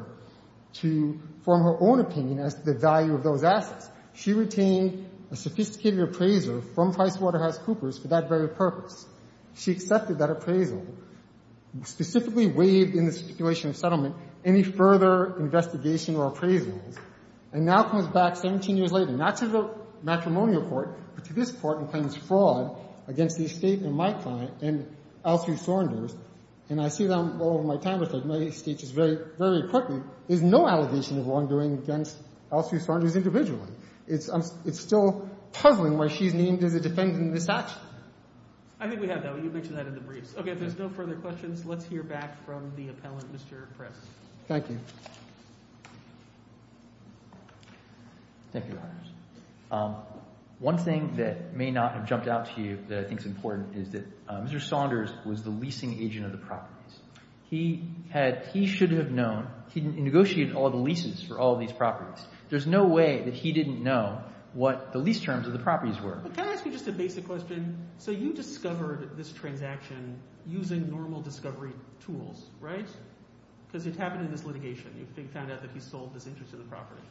to form her own opinion as to the value of those assets. She retained a sophisticated appraiser from PricewaterhouseCoopers for that very purpose. She accepted that appraisal, specifically waived in the speculation of settlement any further investigation or appraisals, and now comes back 17 years later, not to the matrimonial court, but to this Court, and claims fraud against the estate and my client and L. Sue Saunders. And I see that all of my time with the United States very quickly. There's no allegation of wrongdoing against L. Sue Saunders individually. It's still puzzling why she's named as a defendant in this action. I think we have that. You mentioned that in the briefs. Okay. If there's no further questions, let's hear back from the appellant, Mr. Press. Thank you. Thank you, Your Honors. One thing that may not have jumped out to you that I think is important is that Mr. Saunders was the leasing agent of the properties. He should have known. He negotiated all the leases for all these properties. There's no way that he didn't know what the lease terms of the properties were. But can I ask you just a basic question? So you discovered this transaction using normal discovery tools, right? Because it happened in this litigation. You found out that he sold this interest in the property.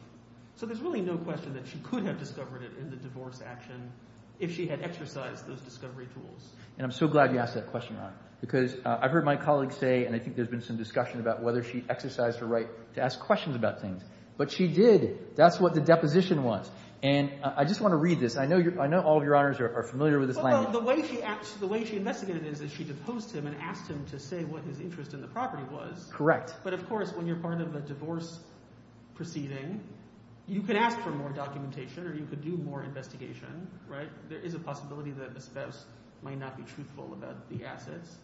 So there's really no question that she could have discovered it in the divorce action if she had exercised those discovery tools. And I'm so glad you asked that question, Ron. Because I've heard my colleague say, and I think there's been some discussion about whether she exercised her right to ask questions about things. But she did. That's what the deposition was. And I just want to read this. I know all of your honors are familiar with this language. Well, the way she investigated it is she deposed him and asked him to say what his interest in the property was. Correct. But, of course, when you're part of a divorce proceeding, you could ask for more documentation or you could do more investigation. There is a possibility that the spouse might not be truthful about the assets.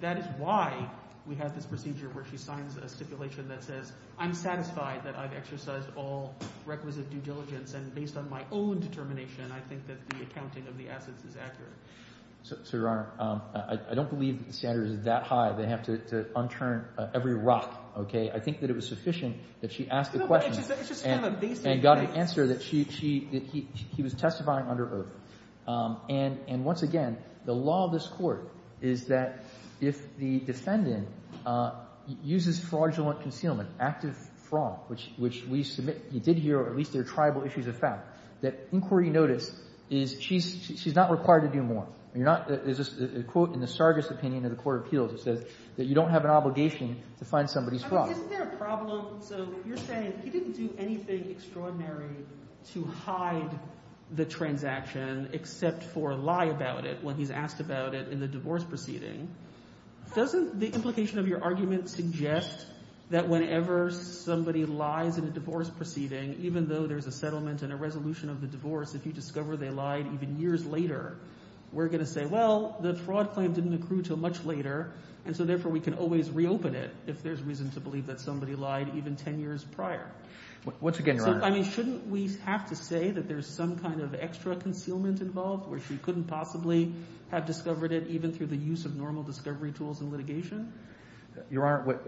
That is why we have this procedure where she signs a stipulation that says, I'm satisfied that I've exercised all requisite due diligence. And based on my own determination, I think that the accounting of the assets is accurate. So, Your Honor, I don't believe the standard is that high. They have to unturn every rock. I think that it was sufficient that she asked the question and got an answer that he was testifying under oath. And once again, the law of this court is that if the defendant uses fraudulent concealment, active fraud, which we submit he did here, or at least there are tribal issues of fact, that inquiry notice is she's not required to do more. There's a quote in the Sargas opinion of the court of appeals that says that you don't have an obligation to find somebody's fraud. Isn't there a problem? So you're saying he didn't do anything extraordinary to hide the transaction except for lie about it when he's asked about it in the divorce proceeding. Doesn't the implication of your argument suggest that whenever somebody lies in a divorce proceeding, even though there's a settlement and a resolution of the divorce, if you discover they lied even years later, we're going to say, well, the fraud claim didn't accrue until much later, and so therefore we can always reopen it if there's reason to believe that somebody lied even ten years prior. Once again, Your Honor. So, I mean, shouldn't we have to say that there's some kind of extra concealment involved where she couldn't possibly have discovered it even through the use of normal discovery tools and litigation? Your Honor,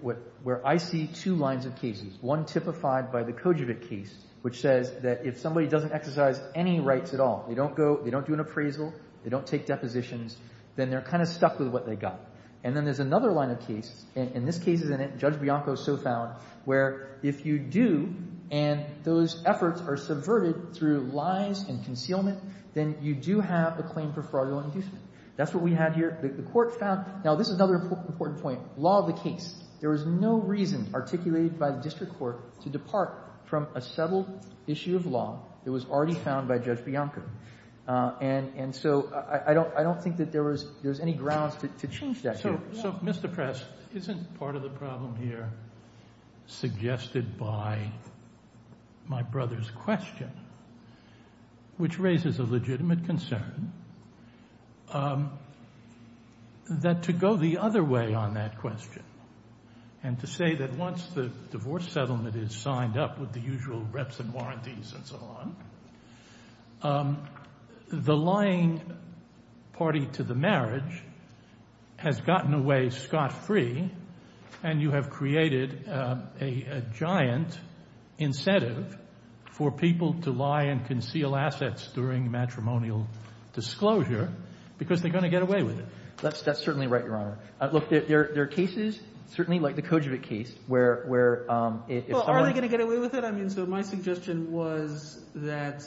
where I see two lines of cases, one typified by the Kojavec case, which says that if somebody doesn't exercise any rights at all, they don't do an appraisal, they don't take depositions, then they're kind of stuck with what they got. And then there's another line of cases, and this case is in it, Judge Bianco so found, where if you do and those efforts are subverted through lies and concealment, then you do have a claim for fraudulent inducement. That's what we have here. The Court found – now, this is another important point. Law of the case. There was no reason articulated by the district court to depart from a settled issue of law. It was already found by Judge Bianco. And so I don't think that there was any grounds to change that here. So, Mr. Press, isn't part of the problem here suggested by my brother's question, which raises a legitimate concern that to go the other way on that question and to say that once the divorce settlement is signed up with the usual reps and warranties and so on, the lying party to the marriage has gotten away scot-free and you have created a giant incentive for people to lie and conceal assets during matrimonial disclosure because they're going to get away with it. That's certainly right, Your Honor. Look, there are cases, certainly like the Kojovic case, where if someone – Well, are they going to get away with it? I mean, so my suggestion was that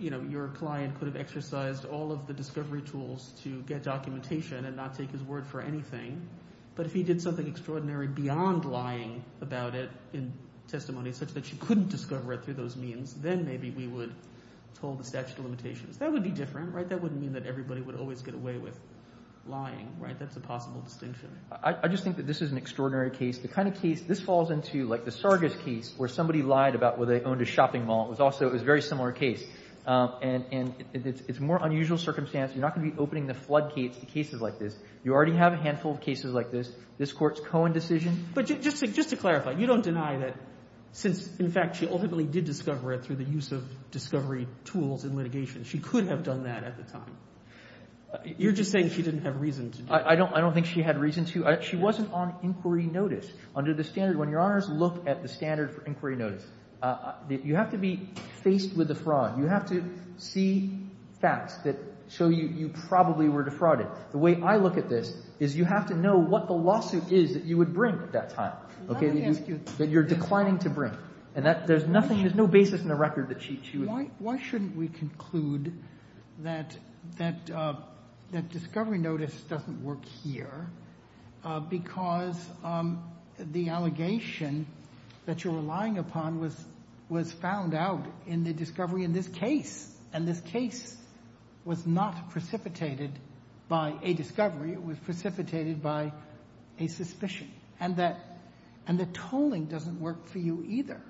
your client could have exercised all of the discovery tools to get documentation and not take his word for anything. But if he did something extraordinary beyond lying about it in testimony such that she couldn't discover it through those means, then maybe we would hold the statute of limitations. That would be different. That wouldn't mean that everybody would always get away with lying. That's a possible distinction. I just think that this is an extraordinary case. The kind of case – this falls into, like, the Sargas case where somebody lied about whether they owned a shopping mall. It was also – it was a very similar case. And it's a more unusual circumstance. You're not going to be opening the floodgates to cases like this. You already have a handful of cases like this. This Court's Cohen decision – But just to clarify, you don't deny that since, in fact, she ultimately did discover it through the use of discovery tools and litigation, she could have done that at the time. You're just saying she didn't have reason to do it. I don't think she had reason to. She wasn't on inquiry notice. Under the standard – when Your Honors look at the standard for inquiry notice, you have to be faced with a fraud. You have to see facts that show you probably were defrauded. The way I look at this is you have to know what the lawsuit is that you would bring at that time, okay, that you're declining to bring. And that – there's nothing – there's no basis in the record that she would – that discovery notice doesn't work here because the allegation that you're relying upon was found out in the discovery in this case. And this case was not precipitated by a discovery. It was precipitated by a suspicion. And the tolling doesn't work for you either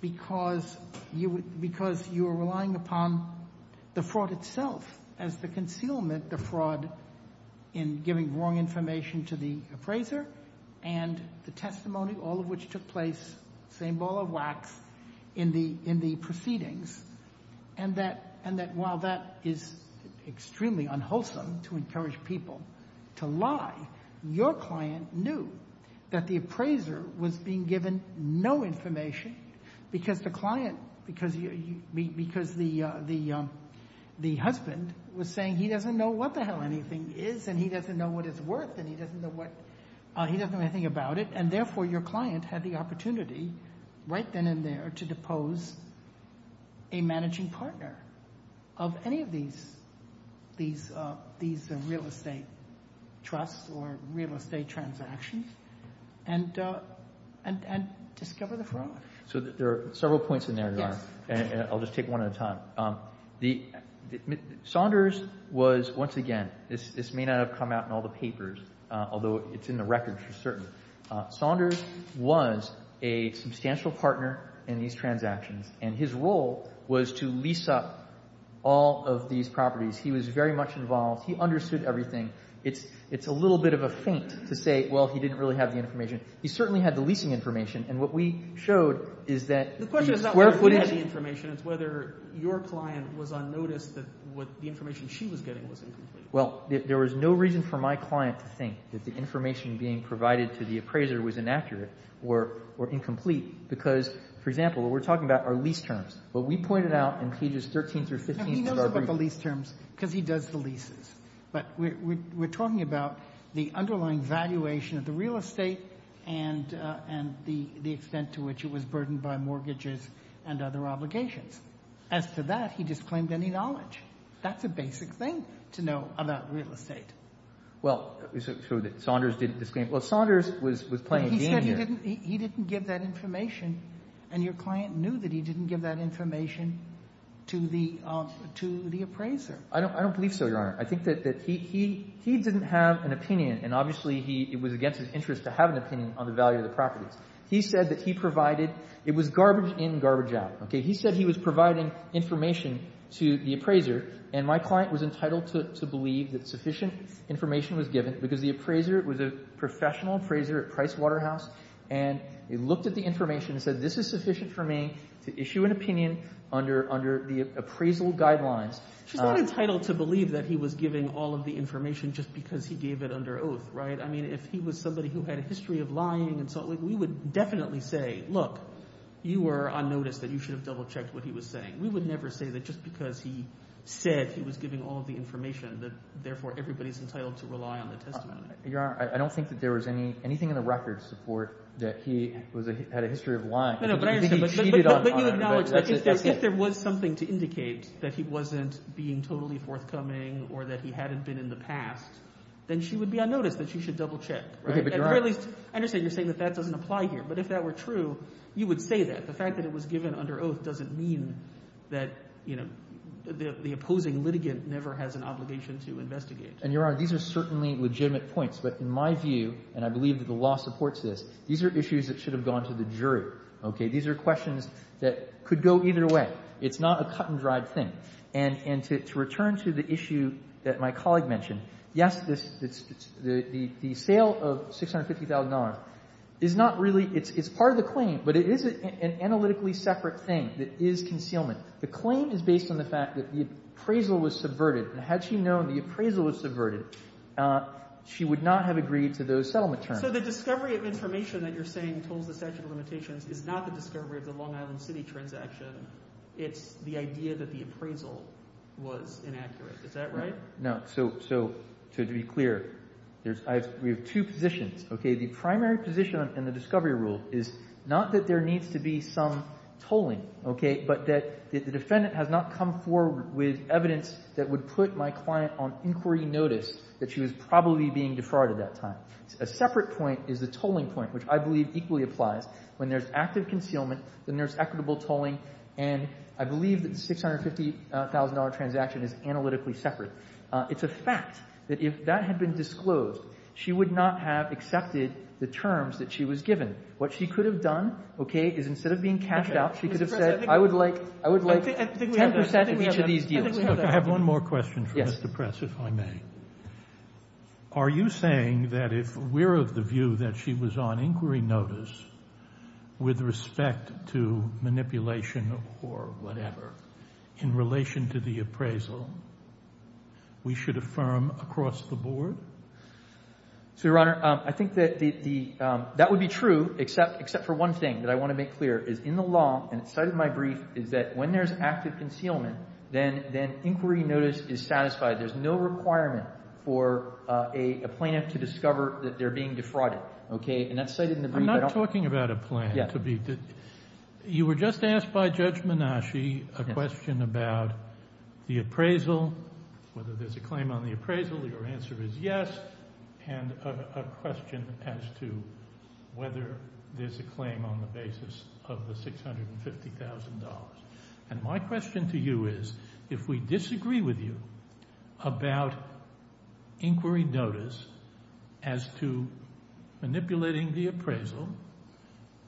because you are relying upon the fraud itself as the concealment, the fraud in giving wrong information to the appraiser and the testimony, all of which took place, same ball of wax, in the proceedings. And that while that is extremely unwholesome to encourage people to lie, your client knew that the appraiser was being given no information because the client – because the husband was saying he doesn't know what the hell anything is and he doesn't know what it's worth and he doesn't know what – he doesn't know anything about it, and therefore your client had the opportunity right then and there to depose a managing partner of any of these real estate trusts or real estate transactions and discover the fraud. So there are several points in there. Yes. And I'll just take one at a time. Saunders was – once again, this may not have come out in all the papers, although it's in the records for certain. Saunders was a substantial partner in these transactions, and his role was to lease up all of these properties. He was very much involved. He understood everything. It's a little bit of a feint to say, well, he didn't really have the information. He certainly had the leasing information, and what we showed is that the square footage – The question is not whether he had the information. It's whether your client was unnoticed that what the information she was getting was incomplete. Well, there was no reason for my client to think that the information being provided to the appraiser was inaccurate or incomplete because, for example, what we're talking about are lease terms. What we pointed out in pages 13 through 15 of our brief – No, he knows about the lease terms because he does the leases. But we're talking about the underlying valuation of the real estate and the extent to which it was burdened by mortgages and other obligations. As to that, he disclaimed any knowledge. That's a basic thing to know about real estate. Well, so Saunders didn't disclaim – well, Saunders was playing a game here. He said he didn't give that information, and your client knew that he didn't give that information to the appraiser. I don't believe so, Your Honor. I think that he didn't have an opinion, and obviously it was against his interest to have an opinion on the value of the properties. He said that he provided – it was garbage in, garbage out. He said he was providing information to the appraiser, and my client was entitled to believe that sufficient information was given because the appraiser was a professional appraiser at Price Waterhouse, and he looked at the information and said, this is sufficient for me to issue an opinion under the appraisal guidelines. She's not entitled to believe that he was giving all of the information just because he gave it under oath, right? I mean if he was somebody who had a history of lying and so on, we would definitely say, look, you were on notice that you should have double-checked what he was saying. We would never say that just because he said he was giving all of the information that therefore everybody is entitled to rely on the testimony. Your Honor, I don't think that there was anything in the record to support that he had a history of lying. No, but I understand, but you acknowledge that if there was something to indicate that he wasn't being totally forthcoming or that he hadn't been in the past, then she would be on notice that she should double-check. At the very least, I understand you're saying that that doesn't apply here, but if that were true, you would say that. The fact that it was given under oath doesn't mean that the opposing litigant never has an obligation to investigate. And, Your Honor, these are certainly legitimate points. But in my view, and I believe that the law supports this, these are issues that should have gone to the jury, okay? These are questions that could go either way. It's not a cut-and-dried thing. And to return to the issue that my colleague mentioned, yes, the sale of $650,000 is not really – it's part of the claim, but it is an analytically separate thing that is concealment. The claim is based on the fact that the appraisal was subverted. Had she known the appraisal was subverted, she would not have agreed to those settlement terms. So the discovery of information that you're saying tolls the statute of limitations is not the discovery of the Long Island City transaction. It's the idea that the appraisal was inaccurate. Is that right? No. So to be clear, we have two positions. The primary position in the discovery rule is not that there needs to be some tolling, okay, but that the defendant has not come forward with evidence that would put my client on inquiry notice that she was probably being defrauded that time. A separate point is the tolling point, which I believe equally applies. When there's active concealment, then there's equitable tolling, and I believe that the $650,000 transaction is analytically separate. It's a fact that if that had been disclosed, she would not have accepted the terms that she was given. What she could have done, okay, is instead of being cashed out, she could have said I would like 10% of each of these deals. I have one more question for Mr. Press, if I may. Are you saying that if we're of the view that she was on inquiry notice with respect to manipulation or whatever in relation to the appraisal, we should affirm across the board? So, Your Honor, I think that would be true, except for one thing that I want to make clear is in the law, and it's cited in my brief, is that when there's active concealment, then inquiry notice is satisfied. There's no requirement for a plaintiff to discover that they're being defrauded. Okay? And that's cited in the brief. I'm not talking about a plan. You were just asked by Judge Menasci a question about the appraisal, whether there's a claim on the appraisal. Your answer is yes. And a question as to whether there's a claim on the basis of the $650,000. And my question to you is if we disagree with you about inquiry notice as to manipulating the appraisal,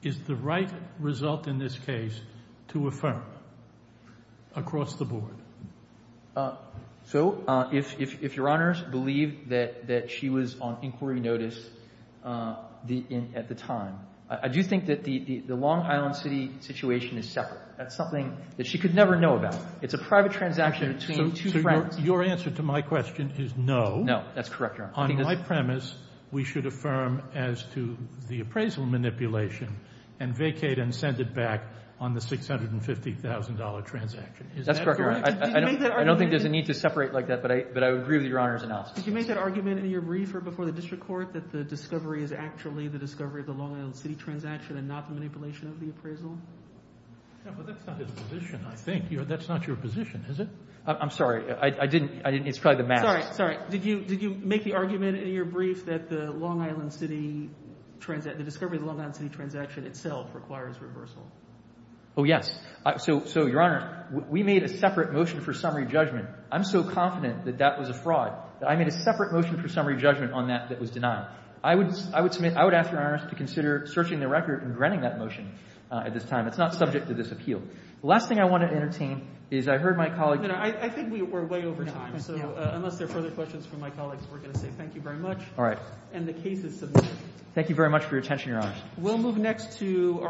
is the right result in this case to affirm across the board? So if Your Honors believe that she was on inquiry notice at the time, I do think that the Long Island City situation is separate. That's something that she could never know about. It's a private transaction between two friends. So your answer to my question is no. No. That's correct, Your Honor. On my premise, we should affirm as to the appraisal manipulation and vacate and send it back on the $650,000 transaction. That's correct, Your Honor. I don't think there's a need to separate like that, but I agree with Your Honor's analysis. Did you make that argument in your brief or before the district court that the discovery is actually the discovery of the Long Island City transaction and not the manipulation of the appraisal? No, but that's not his position, I think. That's not your position, is it? I'm sorry. I didn't. It's probably the math. Sorry. Did you make the argument in your brief that the Long Island City transaction, the discovery of the Long Island City transaction itself requires reversal? Oh, yes. So, Your Honor, we made a separate motion for summary judgment. I'm so confident that that was a fraud, that I made a separate motion for summary judgment on that that was denied. I would ask Your Honor to consider searching the record and granting that motion at this time. It's not subject to this appeal. The last thing I want to entertain is I heard my colleague. I think we're way over time, so unless there are further questions from my colleagues, we're going to say thank you very much. All right. And the case is submitted. Thank you very much for your attention, Your Honor.